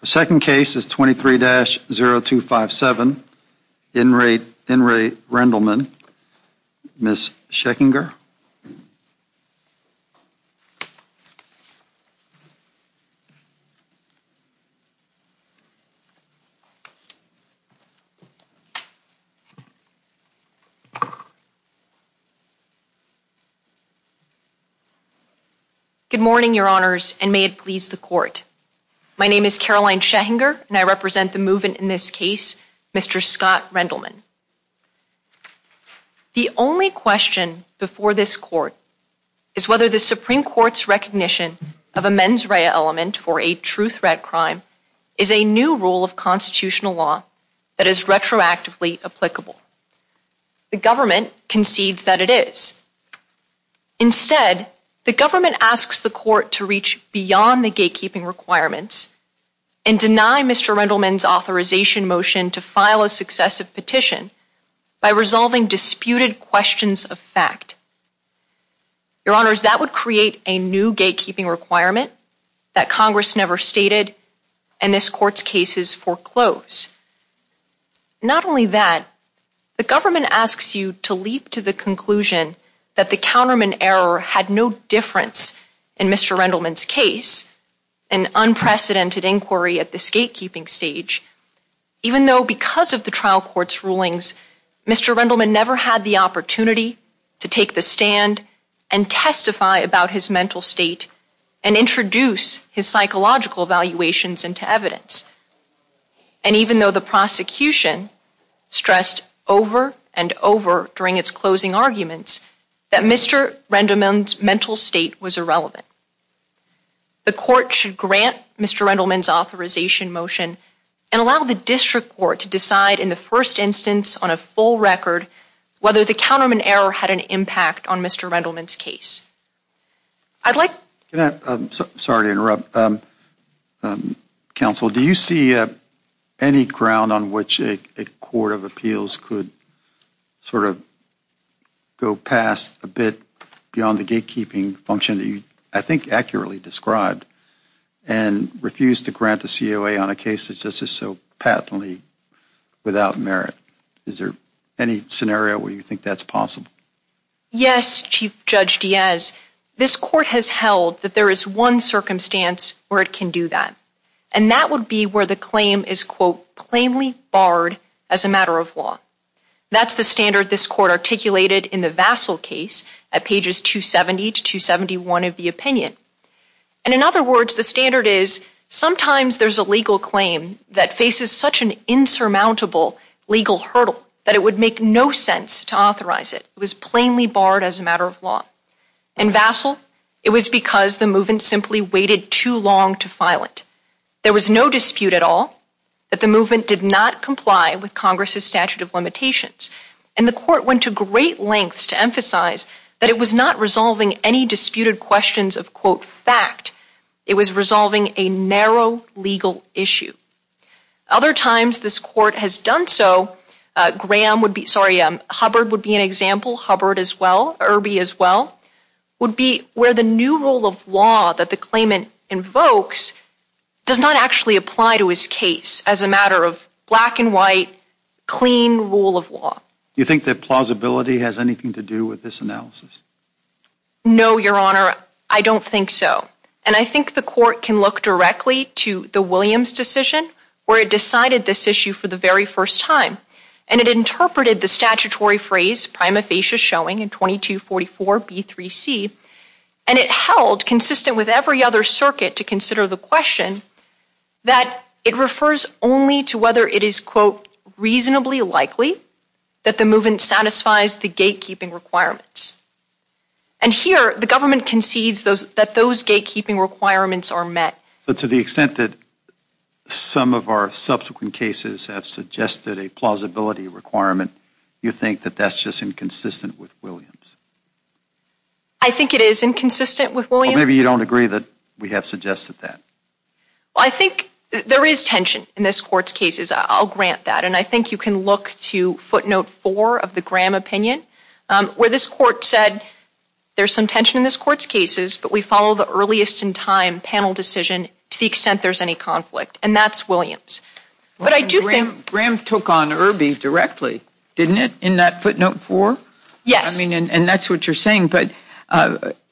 The second case is 23-0257. In re Rendelman, Ms. Schechinger. Good morning, your honors, and may it please the court. My name is Caroline Schechinger, and I represent the movement in this case, Mr. Scott Rendelman. The only question before this court is whether the Supreme Court's recognition of a mens rea element for a true threat crime is a new rule of constitutional law that is retroactively applicable. The government concedes that it is. Instead, the government asks the court to reach beyond the gatekeeping requirements and deny Mr. Rendelman's authorization motion to file a successive petition by resolving disputed questions of fact. Your honors, that would create a new gatekeeping requirement that Congress never stated, and this court's case is foreclosed. Not only that, the government asks you to leap to the conclusion that the counterman error had no difference in Mr. Rendelman's case, an unprecedented inquiry at this gatekeeping stage, even though because of the trial court's rulings, Mr. Rendelman never had the opportunity to take the stand and testify about his mental state and introduce his psychological evaluations into evidence. And even though the prosecution stressed over and over during its closing arguments that Mr. Rendelman's mental state was irrelevant, the court should grant Mr. Rendelman's authorization motion and allow the district court to decide in the first instance on a full record whether the counterman error had an impact on Mr. Rendelman's case. Sorry to interrupt. Counsel, do you see any ground on which a court of appeals could sort of go past a bit beyond the gatekeeping function that you, I think, accurately described and refuse to grant a COA on a case that's just so patently without merit? Is there any scenario where you think that's possible? Yes, Chief Judge Diaz. This court has held that there is one circumstance where it can do that, and that would be where the claim is, quote, plainly barred as a matter of law. That's the standard this court articulated in the Vassal case at pages 270 to 271 of the opinion. And in other words, the standard is sometimes there's a legal claim that faces such an insurmountable legal hurdle that it would make no sense to authorize it. It was plainly barred as a matter of law. In Vassal, it was because the movement simply waited too long to file it. There was no dispute at all that the movement did not comply with Congress's statute of limitations. And the court went to great lengths to emphasize that it was not resolving any disputed questions of, quote, fact. It was resolving a narrow legal issue. Other times this court has done so, Graham would be, sorry, Hubbard would be an example, Hubbard as well, Irby as well, would be where the new rule of law that the claimant invokes does not actually apply to his case as a matter of black and white, clean rule of law. Do you think that plausibility has anything to do with this analysis? No, Your Honor, I don't think so. And I think the court can look directly to the Williams decision where it decided this issue for the very first time. And it interpreted the statutory phrase prima facie showing in 2244B3C. And it held, consistent with every other circuit to consider the question, that it refers only to whether it is, quote, reasonably likely that the movement satisfies the gatekeeping requirements. And here, the government concedes that those gatekeeping requirements are met. But to the extent that some of our subsequent cases have suggested a plausibility requirement, you think that that's just inconsistent with Williams? I think it is inconsistent with Williams. Well, maybe you don't agree that we have suggested that. Well, I think there is tension in this court's cases. I'll grant that. And I think you can look to footnote four of the Graham opinion where this court said there's some tension in this court's cases, but we follow the earliest in time panel decision to the extent there's any conflict. And that's Williams. But I do think — Graham took on Irby directly, didn't it, in that footnote four? Yes. I mean, and that's what you're saying. But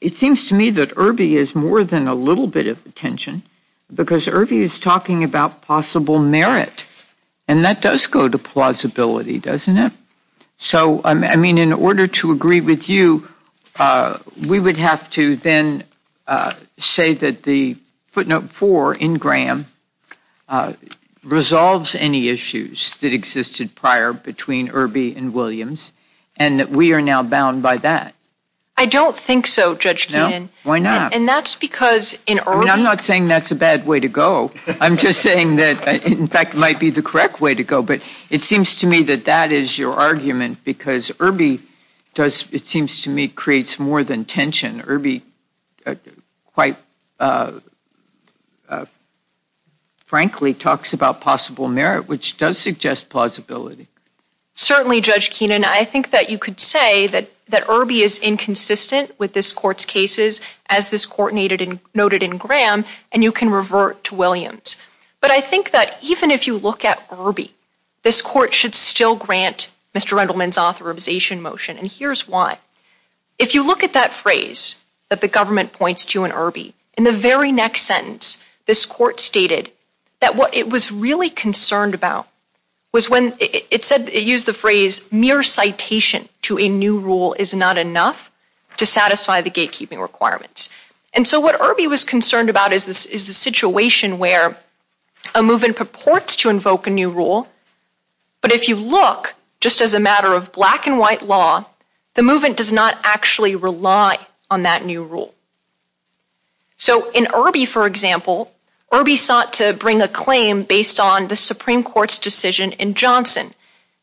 it seems to me that Irby is more than a little bit of a tension because Irby is talking about possible merit. And that does go to plausibility, doesn't it? So, I mean, in order to agree with you, we would have to then say that the footnote four in Graham resolves any issues that existed prior between Irby and Williams and that we are now bound by that. I don't think so, Judge Keenan. No? Why not? And that's because in Irby — I'm not saying that's a bad way to go. I'm just saying that, in fact, it might be the correct way to go. But it seems to me that that is your argument because Irby does — it seems to me creates more than tension. Irby quite frankly talks about possible merit, which does suggest plausibility. Certainly, Judge Keenan. I think that you could say that Irby is inconsistent with this Court's cases, as this Court noted in Graham, and you can revert to Williams. But I think that even if you look at Irby, this Court should still grant Mr. Rendleman's authorization motion. And here's why. If you look at that phrase that the government points to in Irby, in the very next sentence, this Court stated that what it was really concerned about was when — it said, it used the phrase, mere citation to a new rule is not enough to satisfy the gatekeeping requirements. And so what Irby was concerned about is the situation where a movement purports to invoke a new rule, but if you look, just as a matter of black and white law, the movement does not actually rely on that new rule. So in Irby, for example, Irby sought to bring a claim based on the Supreme Court's decision in Johnson,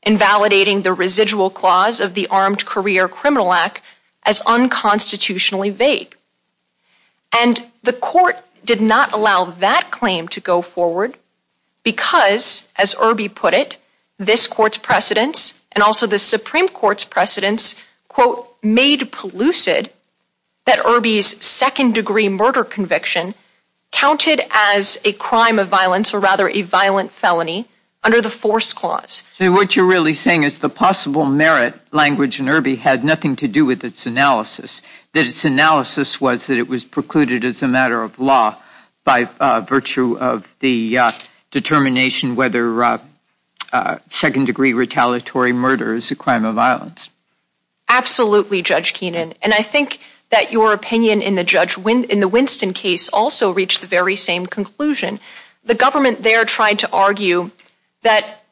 invalidating the residual clause of the Armed Career Criminal Act as unconstitutionally vague. And the Court did not allow that claim to go forward because, as Irby put it, this Court's precedence, and also the Supreme Court's precedence, quote, made pellucid that Irby's second-degree murder conviction counted as a crime of violence, or rather a violent felony, under the force clause. So what you're really saying is the possible merit language in Irby had nothing to do with its analysis, that its analysis was that it was precluded as a matter of law by virtue of the determination whether second-degree retaliatory murder is a crime of violence. Absolutely, Judge Keenan. And I think that your opinion in the Winston case also reached the very same conclusion. The government there tried to argue that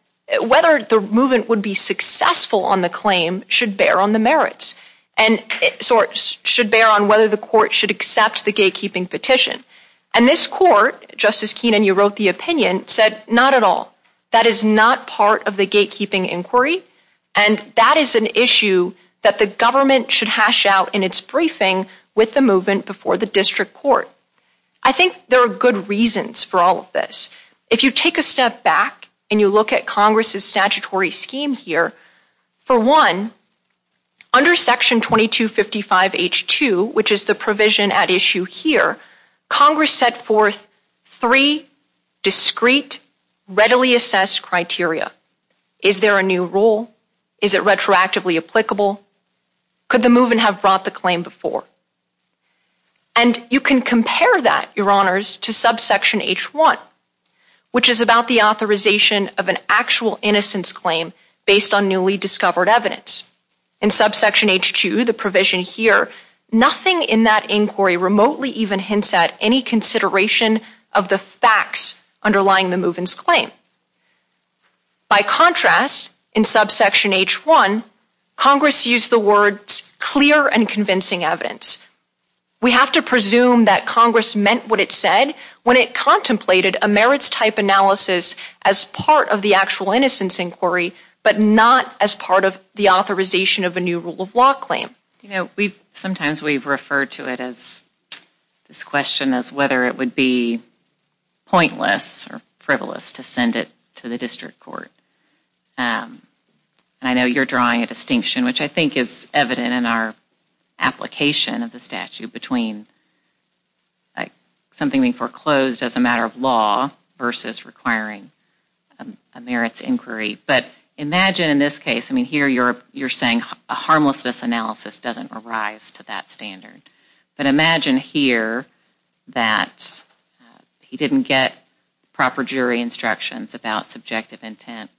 whether the movement would be successful on the claim should bear on the merits, and should bear on whether the Court should accept the gatekeeping petition. And this Court, Justice Keenan, you wrote the opinion, said not at all. That is not part of the gatekeeping inquiry, and that is an issue that the government should hash out in its briefing with the movement before the district court. I think there are good reasons for all of this. If you take a step back and you look at Congress's statutory scheme here, for one, under Section 2255H2, which is the provision at issue here, Congress set forth three discrete, readily assessed criteria. Is there a new rule? Is it retroactively applicable? Could the movement have brought the claim before? And you can compare that, Your Honors, to subsection H1, which is about the authorization of an actual innocence claim based on newly discovered evidence. In subsection H2, the provision here, nothing in that inquiry remotely even hints at any consideration of the facts underlying the movement's claim. By contrast, in subsection H1, Congress used the words clear and convincing evidence. We have to presume that Congress meant what it said when it contemplated a merits type analysis as part of the actual innocence inquiry, but not as part of the authorization of a new rule of law claim. Sometimes we've referred to it as, this question as whether it would be pointless or frivolous to send it to the district court. I know you're drawing a distinction, which I think is evident in our application of the statute, between something being foreclosed as a matter of law versus requiring a merits inquiry. But imagine in this case, I mean, here you're saying a harmlessness analysis doesn't arise to that standard. But imagine here that he didn't get proper jury instructions about subjective intent,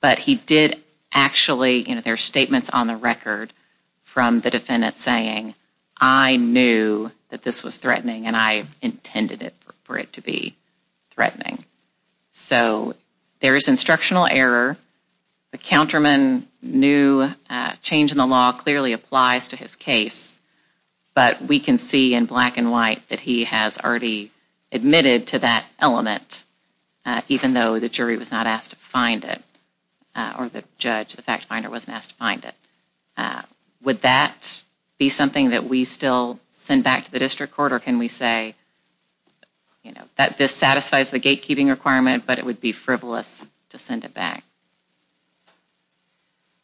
but he did actually, you know, there are statements on the record from the defendant saying, I knew that this was threatening and I intended for it to be threatening. So there is instructional error. The counterman knew a change in the law clearly applies to his case, but we can see in black and white that he has already admitted to that element, even though the jury was not asked to find it, or the judge, the fact finder, wasn't asked to find it. Would that be something that we still send back to the district court, or can we say that this satisfies the gatekeeping requirement, but it would be frivolous to send it back?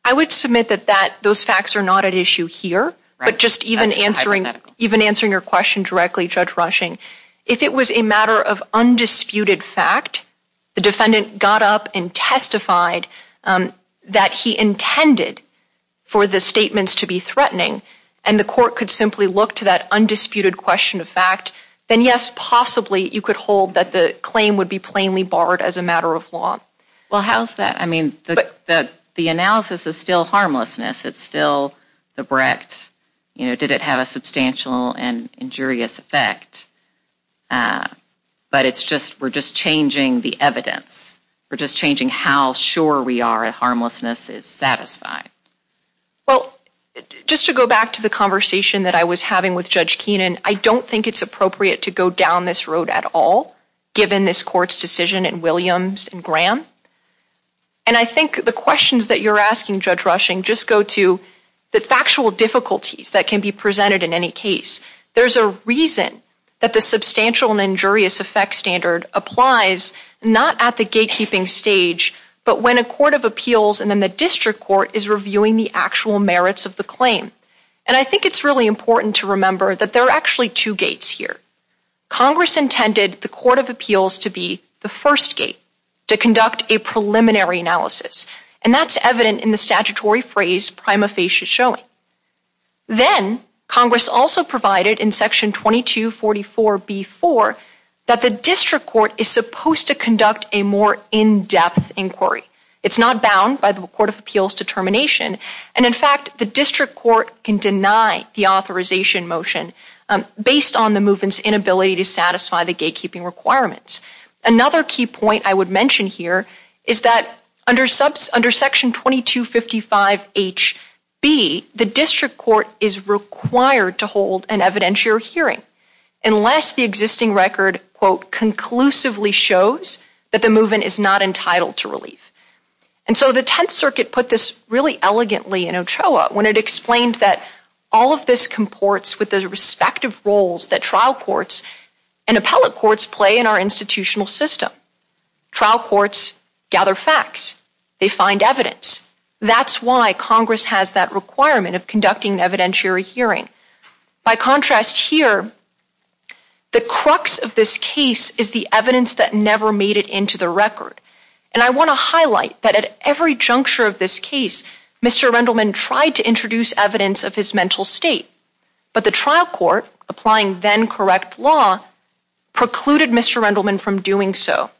I would submit that those facts are not at issue here, but just even answering your question directly, Judge Rushing, if it was a matter of undisputed fact, the defendant got up and testified that he intended for the statements to be threatening, and the court could simply look to that undisputed question of fact, then yes, possibly, you could hold that the claim would be plainly barred as a matter of law. Well, how's that? I mean, the analysis is still harmlessness. It's still the Brecht, you know, did it have a substantial and injurious effect? But it's just, we're just changing the evidence. We're just changing how sure we are that harmlessness is satisfied. Well, just to go back to the conversation that I was having with Judge Keenan, I don't think it's appropriate to go down this road at all, given this court's decision in Williams and Graham. And I think the questions that you're asking, Judge Rushing, just go to the factual difficulties that can be presented in any case. There's a reason that the substantial and injurious effect standard applies not at the gatekeeping stage, but when a court of appeals and then the district court is reviewing the actual merits of the claim. And I think it's really important to remember that there are actually two gates here. Congress intended the court of appeals to be the first gate to conduct a preliminary analysis. And that's evident in the statutory phrase prima facie showing. Then Congress also provided in Section 2244B-4 that the district court is supposed to conduct a more in-depth inquiry. It's not bound by the court of appeals determination. And in fact, the district court can deny the authorization motion based on the movement's inability to satisfy the gatekeeping requirements. Another key point I would mention here is that under Section 2255H-B, the district court is required to hold an evidentiary hearing unless the existing record, quote, conclusively shows that the movement is not entitled to relief. And so the Tenth Circuit put this really elegantly in Ochoa, when it explained that all of this comports with the respective roles that trial courts and appellate courts play in our institutional system. Trial courts gather facts. They find evidence. That's why Congress has that requirement of conducting an evidentiary hearing. By contrast here, the crux of this case is the evidence that never made it into the record. And I want to highlight that at every juncture of this case, Mr. Rendleman tried to introduce evidence of his mental state. But the trial court, applying then-correct law, precluded Mr. Rendleman from doing so.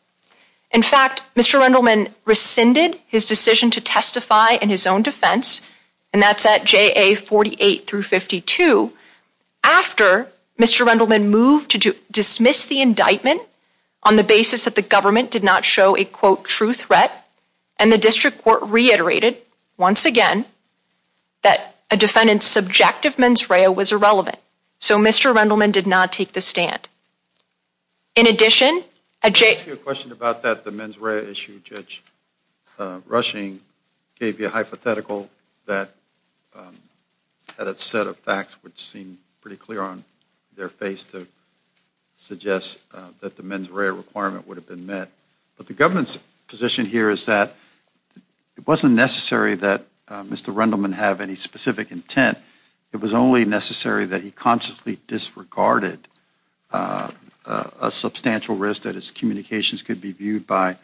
In fact, Mr. Rendleman rescinded his decision to testify in his own defense, and that's at JA 48-52, after Mr. Rendleman moved to dismiss the indictment on the basis that the government did not show a, quote, true threat. And the district court reiterated, once again, that a defendant's subjective mens rea was irrelevant. So Mr. Rendleman did not take the stand. In addition- I'll ask you a question about that, the mens rea issue. Judge Rushing gave you a hypothetical that had a set of facts which seemed pretty clear on their face to suggest that the mens rea requirement would have been met. But the government's position here is that it wasn't necessary that Mr. Rendleman have any specific intent. It was only necessary that he consciously disregarded a substantial risk that his communications could be viewed by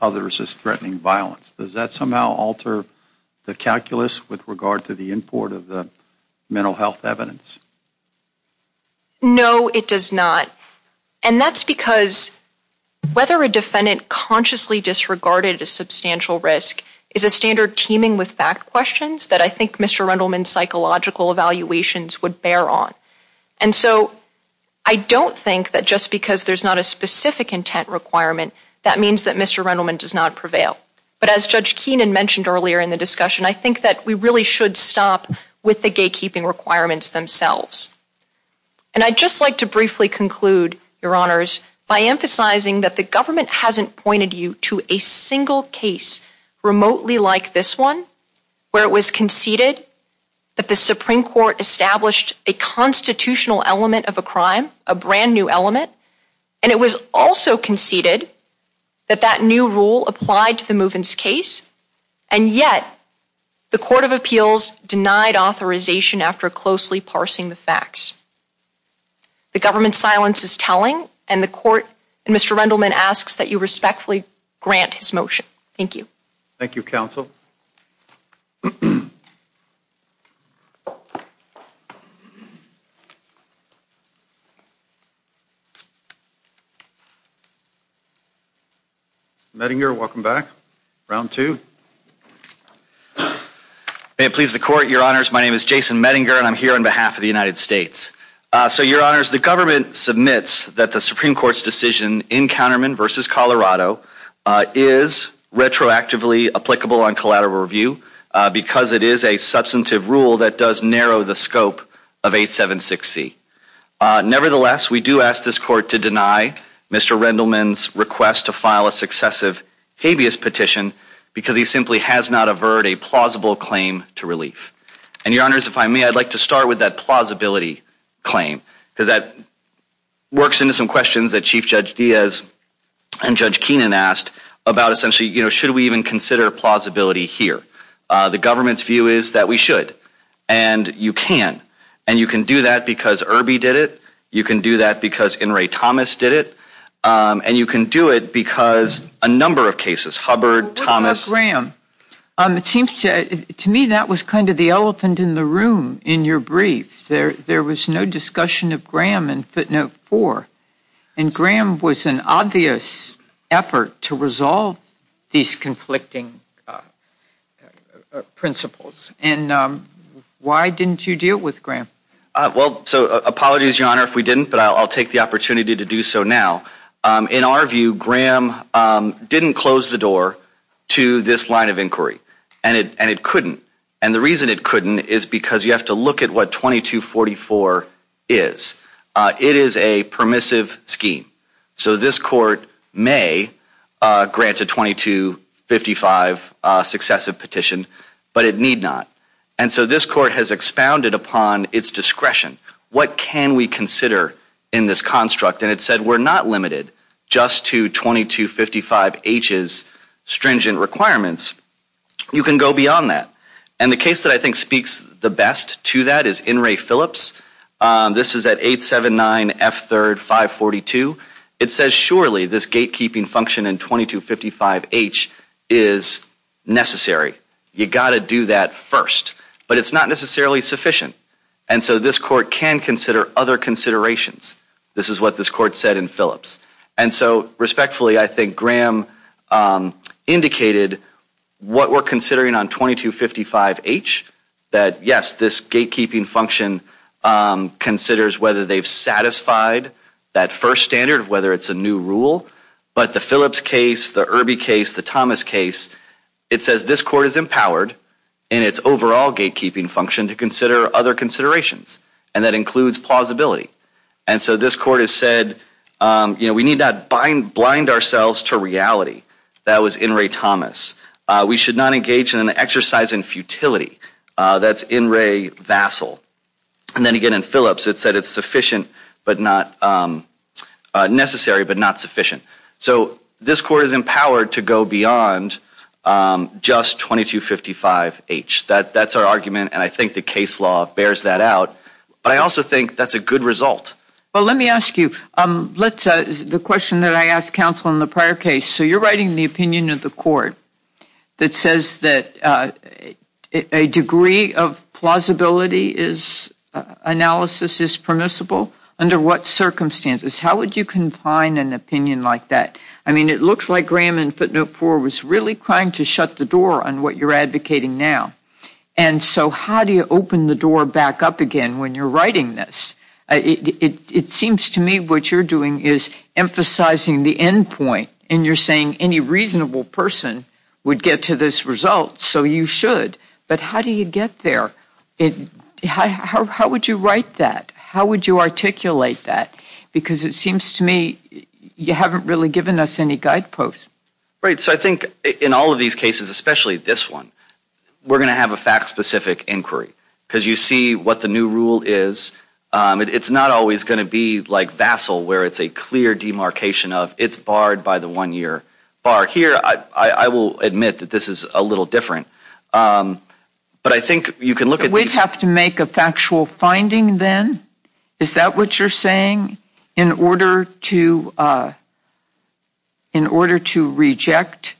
others as threatening violence. Does that somehow alter the calculus with regard to the import of the mental health evidence? No, it does not. And that's because whether a defendant consciously disregarded a substantial risk is a standard teeming with fact questions that I think Mr. Rendleman's psychological evaluations would bear on. And so I don't think that just because there's not a specific intent requirement, that means that Mr. Rendleman does not prevail. But as Judge Keenan mentioned earlier in the discussion, I think that we really should stop with the gatekeeping requirements themselves. And I'd just like to briefly conclude, Your Honors, by emphasizing that the government hasn't pointed you to a single case remotely like this one, where it was conceded that the Supreme Court established a constitutional element of a crime, a brand new element. And it was also conceded that that new rule applied to the Movens case, and yet the Court of Appeals denied authorization after closely parsing the facts. The government's silence is telling, and the Court, and Mr. Rendleman asks that you respectfully grant his motion. Thank you. Thank you, Counsel. Mr. Mettinger, welcome back. Round two. May it please the Court, Your Honors. My name is Jason Mettinger, and I'm here on behalf of the United States. So, Your Honors, the government submits that the Supreme Court's decision in Counterman v. Colorado is retroactively applicable on collateral review because it is a substantive rule that does narrow the scope of 876C. Nevertheless, we do ask this Court to deny Mr. Rendleman's request to file a successive habeas petition because he simply has not averred a plausible claim to relief. And, Your Honors, if I may, I'd like to start with that plausibility claim, because that works into some questions that Chief Judge Diaz and Judge Keenan asked about essentially, you know, should we even consider plausibility here? The government's view is that we should, and you can. And you can do that because Irby did it. You can do that because Inouye Thomas did it. And you can do it because a number of cases, Hubbard, Thomas. What about Graham? It seems to me that was kind of the elephant in the room in your brief. There was no discussion of Graham in footnote 4, and Graham was an obvious effort to resolve these conflicting principles. And why didn't you deal with Graham? Well, so apologies, Your Honor, if we didn't, but I'll take the opportunity to do so now. In our view, Graham didn't close the door to this line of inquiry, and it couldn't. And the reason it couldn't is because you have to look at what 2244 is. It is a permissive scheme. So this court may grant a 2255 successive petition, but it need not. And so this court has expounded upon its discretion. What can we consider in this construct? And it said we're not limited just to 2255H's stringent requirements. You can go beyond that. And the case that I think speaks the best to that is In re Phillips. This is at 879F3RD542. It says surely this gatekeeping function in 2255H is necessary. You got to do that first. But it's not necessarily sufficient. And so this court can consider other considerations. This is what this court said in Phillips. And so respectfully, I think Graham indicated what we're considering on 2255H, that, yes, this gatekeeping function considers whether they've satisfied that first standard, whether it's a new rule. But the Phillips case, the Irby case, the Thomas case, it says this court is empowered in its overall gatekeeping function to consider other considerations, and that includes plausibility. And so this court has said, you know, we need not blind ourselves to reality. That was In re Thomas. We should not engage in an exercise in futility. That's In re Vassell. And then again in Phillips it said it's sufficient but not necessary but not sufficient. So this court is empowered to go beyond just 2255H. That's our argument, and I think the case law bears that out. But I also think that's a good result. Well, let me ask you, the question that I asked counsel in the prior case, so you're writing the opinion of the court that says that a degree of plausibility analysis is permissible under what circumstances? How would you confine an opinion like that? I mean, it looks like Graham in footnote four was really trying to shut the door on what you're advocating now. And so how do you open the door back up again when you're writing this? It seems to me what you're doing is emphasizing the end point, and you're saying any reasonable person would get to this result, so you should. But how do you get there? How would you write that? How would you articulate that? Because it seems to me you haven't really given us any guideposts. Right. So I think in all of these cases, especially this one, we're going to have a fact-specific inquiry because you see what the new rule is. It's not always going to be like Vassil where it's a clear demarcation of it's barred by the one-year bar. Here I will admit that this is a little different. But I think you can look at these. We'd have to make a factual finding then? Is that what you're saying, in order to reject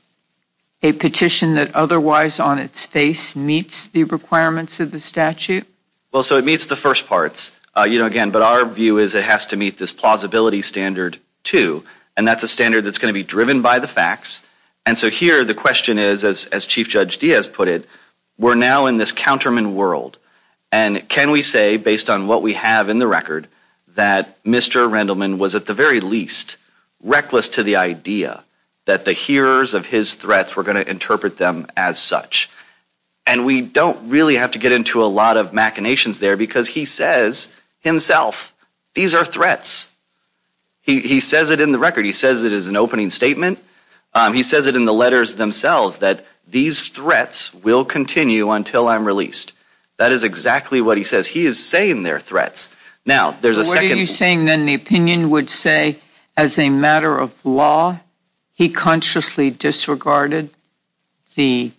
a petition that otherwise on its face meets the requirements of the statute? Well, so it meets the first parts, you know, again. But our view is it has to meet this plausibility standard too, and that's a standard that's going to be driven by the facts. And so here the question is, as Chief Judge Diaz put it, we're now in this counterman world. And can we say, based on what we have in the record, that Mr. Rendleman was at the very least reckless to the idea that the hearers of his threats were going to interpret them as such? And we don't really have to get into a lot of machinations there, because he says himself, these are threats. He says it in the record. He says it as an opening statement. He says it in the letters themselves, that these threats will continue until I'm released. That is exactly what he says. He is saying they're threats. Now, there's a second. What are you saying, then, the opinion would say, as a matter of law, he consciously disregarded the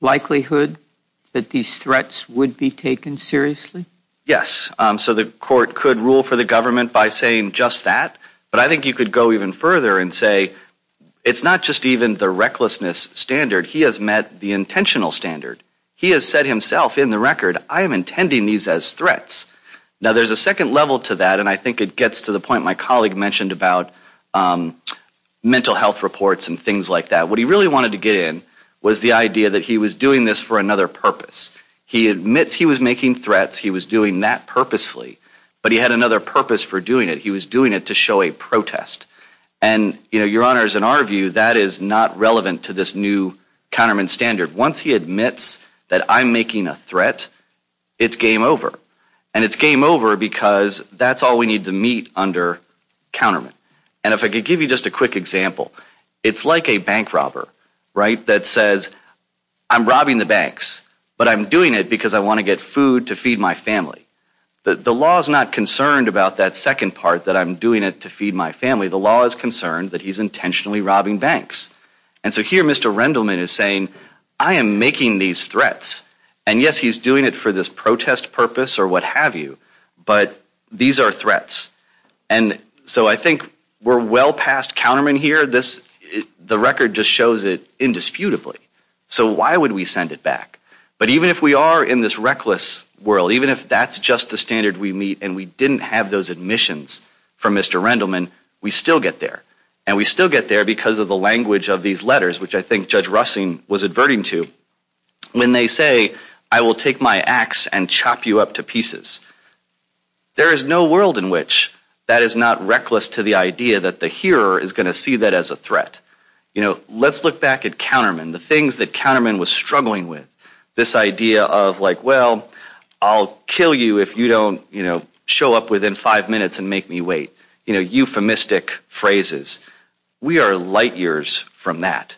likelihood that these threats would be taken seriously? Yes. So the court could rule for the government by saying just that. But I think you could go even further and say it's not just even the recklessness standard. He has met the intentional standard. He has said himself in the record, I am intending these as threats. Now, there's a second level to that, and I think it gets to the point my colleague mentioned about mental health reports and things like that. What he really wanted to get in was the idea that he was doing this for another purpose. He admits he was making threats. He was doing that purposefully. But he had another purpose for doing it. He was doing it to show a protest. And, Your Honors, in our view, that is not relevant to this new counterman standard. Once he admits that I'm making a threat, it's game over. And it's game over because that's all we need to meet under counterman. And if I could give you just a quick example, it's like a bank robber, right, that says, I'm robbing the banks, but I'm doing it because I want to get food to feed my family. The law is not concerned about that second part that I'm doing it to feed my family. The law is concerned that he's intentionally robbing banks. And so here Mr. Rendleman is saying, I am making these threats. And, yes, he's doing it for this protest purpose or what have you, but these are threats. And so I think we're well past counterman here. The record just shows it indisputably. So why would we send it back? But even if we are in this reckless world, even if that's just the standard we meet and we didn't have those admissions from Mr. Rendleman, we still get there. And we still get there because of the language of these letters, which I think Judge Russing was adverting to, when they say, I will take my axe and chop you up to pieces. There is no world in which that is not reckless to the idea that the hearer is going to see that as a threat. You know, let's look back at counterman, the things that counterman was struggling with. This idea of, like, well, I'll kill you if you don't, you know, show up within five minutes and make me wait. You know, euphemistic phrases. We are light years from that.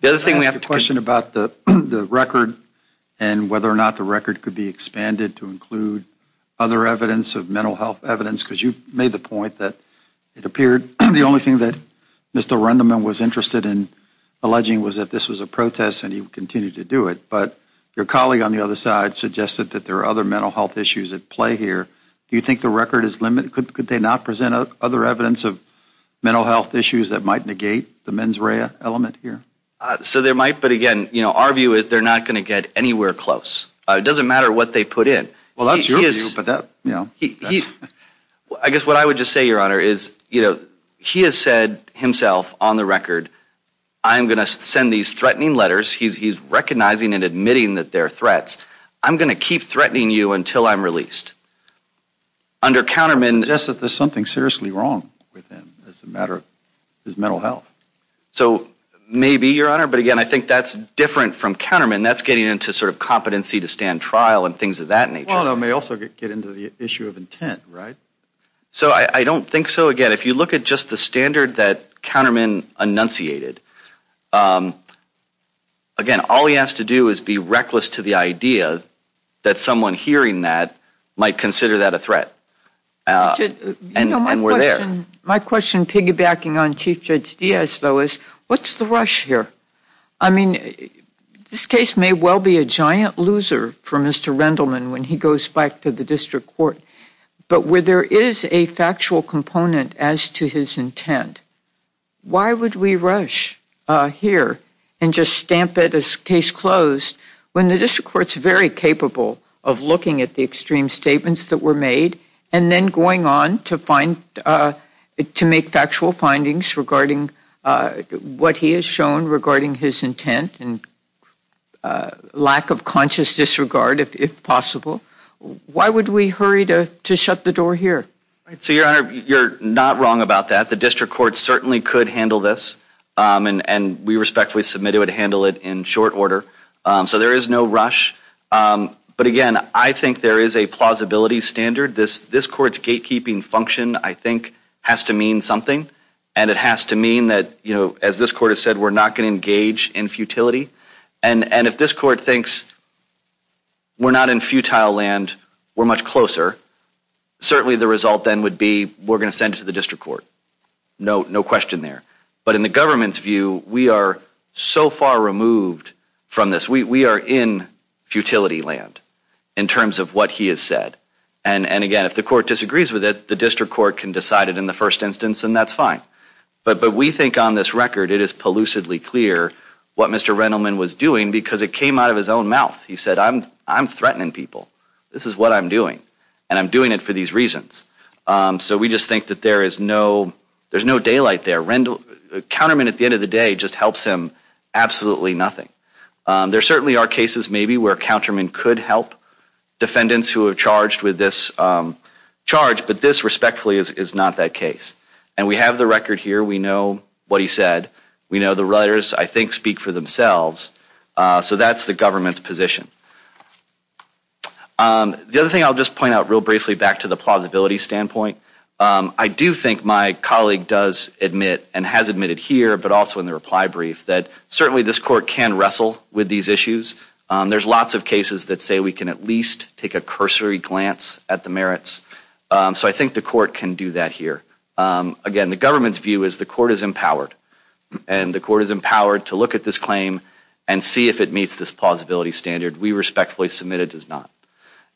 The other thing we have to do. I have a question about the record and whether or not the record could be expanded to include other evidence of mental health evidence, because you made the point that it appeared the only thing that Mr. Rendleman was interested in alleging was that this was a protest and he would continue to do it. But your colleague on the other side suggested that there are other mental health issues at play here. Do you think the record is limited? Could they not present other evidence of mental health issues that might negate the mens rea element here? So they might, but, again, you know, our view is they're not going to get anywhere close. It doesn't matter what they put in. Well, that's your view, but that, you know. I guess what I would just say, Your Honor, is, you know, he has said himself on the record, I am going to send these threatening letters, he's recognizing and admitting that they're threats, I'm going to keep threatening you until I'm released. Under Counterman. I suggest that there's something seriously wrong with him as a matter of his mental health. So maybe, Your Honor, but, again, I think that's different from Counterman, that's getting into sort of competency to stand trial and things of that nature. Well, it may also get into the issue of intent, right? So I don't think so. Again, if you look at just the standard that Counterman enunciated, again, all he has to do is be reckless to the idea that someone hearing that might consider that a threat. And we're there. You know, my question piggybacking on Chief Judge Diaz, though, is what's the rush here? I mean, this case may well be a giant loser for Mr. Rendleman when he goes back to the district court, but where there is a factual component as to his intent, why would we rush here and just stamp it as case closed when the district court's very capable of looking at the extreme statements that were made and then going on to make factual findings regarding what he has shown regarding his intent and lack of conscious disregard, if possible? Why would we hurry to shut the door here? So, Your Honor, you're not wrong about that. The district court certainly could handle this, and we respectfully submit it would handle it in short order. So there is no rush. But, again, I think there is a plausibility standard. This Court's gatekeeping function, I think, has to mean something, and it has to mean that, you know, as this Court has said, we're not going to engage in futility. And if this Court thinks we're not in futile land, we're much closer, certainly the result then would be we're going to send it to the district court. No question there. But in the government's view, we are so far removed from this. We are in futility land in terms of what he has said. And, again, if the court disagrees with it, the district court can decide it in the first instance, and that's fine. But we think on this record it is pollucedly clear what Mr. Rendleman was doing because it came out of his own mouth. He said, I'm threatening people. This is what I'm doing, and I'm doing it for these reasons. So we just think that there is no daylight there. Counterman at the end of the day just helps him absolutely nothing. There certainly are cases maybe where counterman could help defendants who have charged with this charge, but this respectfully is not that case. And we have the record here. We know what he said. We know the writers, I think, speak for themselves. So that's the government's position. The other thing I'll just point out real briefly back to the plausibility standpoint, I do think my colleague does admit and has admitted here, but also in the reply brief, that certainly this court can wrestle with these issues. There's lots of cases that say we can at least take a cursory glance at the merits. So I think the court can do that here. Again, the government's view is the court is empowered, and the court is empowered to look at this claim and see if it meets this plausibility standard. We respectfully submit it does not.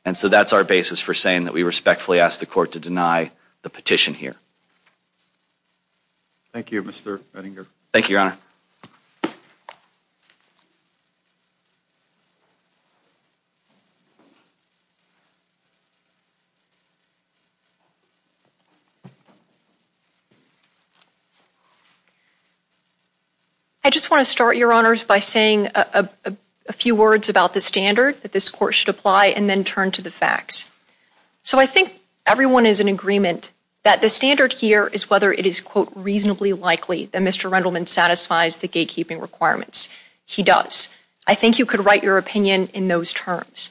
And so that's our basis for saying that we respectfully ask the court to deny the petition here. Thank you, Mr. Ettinger. Thank you, Your Honor. I just want to start, Your Honors, by saying a few words about the facts. So I think everyone is in agreement that the standard here is whether it is, quote, reasonably likely that Mr. Rendleman satisfies the gatekeeping requirements. He does. I think you could write your opinion in those terms.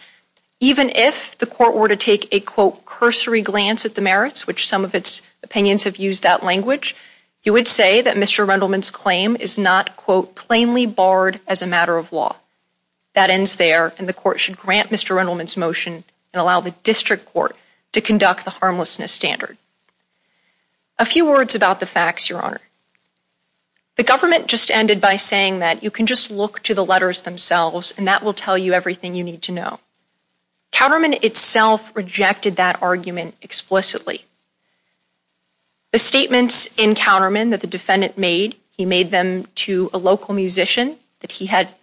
Even if the court were to take a, quote, cursory glance at the merits, which some of its opinions have used that language, you would say that Mr. Rendleman's claim is not, quote, plainly barred as a matter of law. That ends there, and the court should grant Mr. Rendleman's motion and allow the district court to conduct the harmlessness standard. A few words about the facts, Your Honor. The government just ended by saying that you can just look to the letters themselves, and that will tell you everything you need to know. Counterman itself rejected that argument explicitly. The statements in Counterman that the defendant made, he made them to a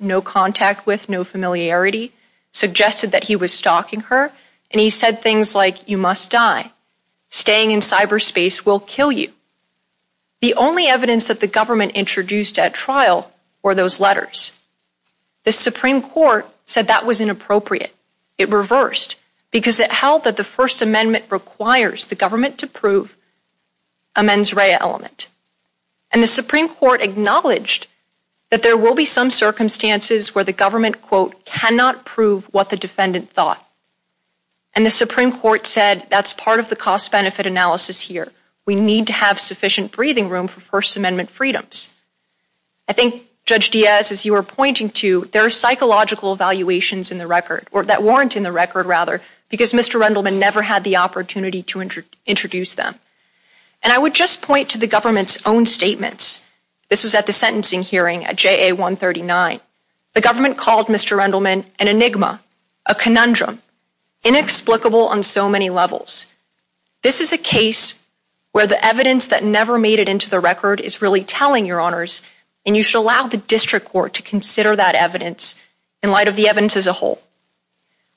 no contact with, no familiarity, suggested that he was stalking her, and he said things like, you must die. Staying in cyberspace will kill you. The only evidence that the government introduced at trial were those letters. The Supreme Court said that was inappropriate. It reversed because it held that the First Amendment requires the government to prove a mens rea element. And the Supreme Court acknowledged that there will be some circumstances where the government, quote, cannot prove what the defendant thought. And the Supreme Court said that's part of the cost-benefit analysis here. We need to have sufficient breathing room for First Amendment freedoms. I think, Judge Diaz, as you were pointing to, there are psychological evaluations in the record, or that warrant in the record, rather, because Mr. Rendleman never had the opportunity to introduce them. And I would just point to the government's own statements. This was at the sentencing hearing at JA 139. The government called Mr. Rendleman an enigma, a conundrum, inexplicable on so many levels. This is a case where the evidence that never made it into the record is really telling, Your Honors, and you should allow the district court to consider that evidence in light of the evidence as a whole.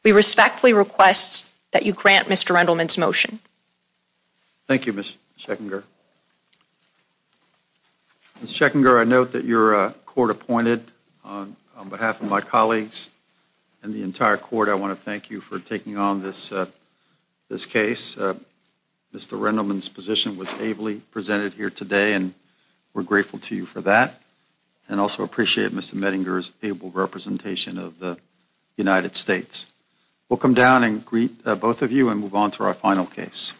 We respectfully request that you grant Mr. Rendleman's motion. Thank you, Ms. Schechinger. Ms. Schechinger, I note that you're court-appointed. On behalf of my colleagues and the entire court, I want to thank you for taking on this case. Mr. Rendleman's position was ably presented here today, and we're grateful to you for that, and also appreciate Mr. Mettinger's able representation of the United States. We'll come down and greet both of you and move on to our final case.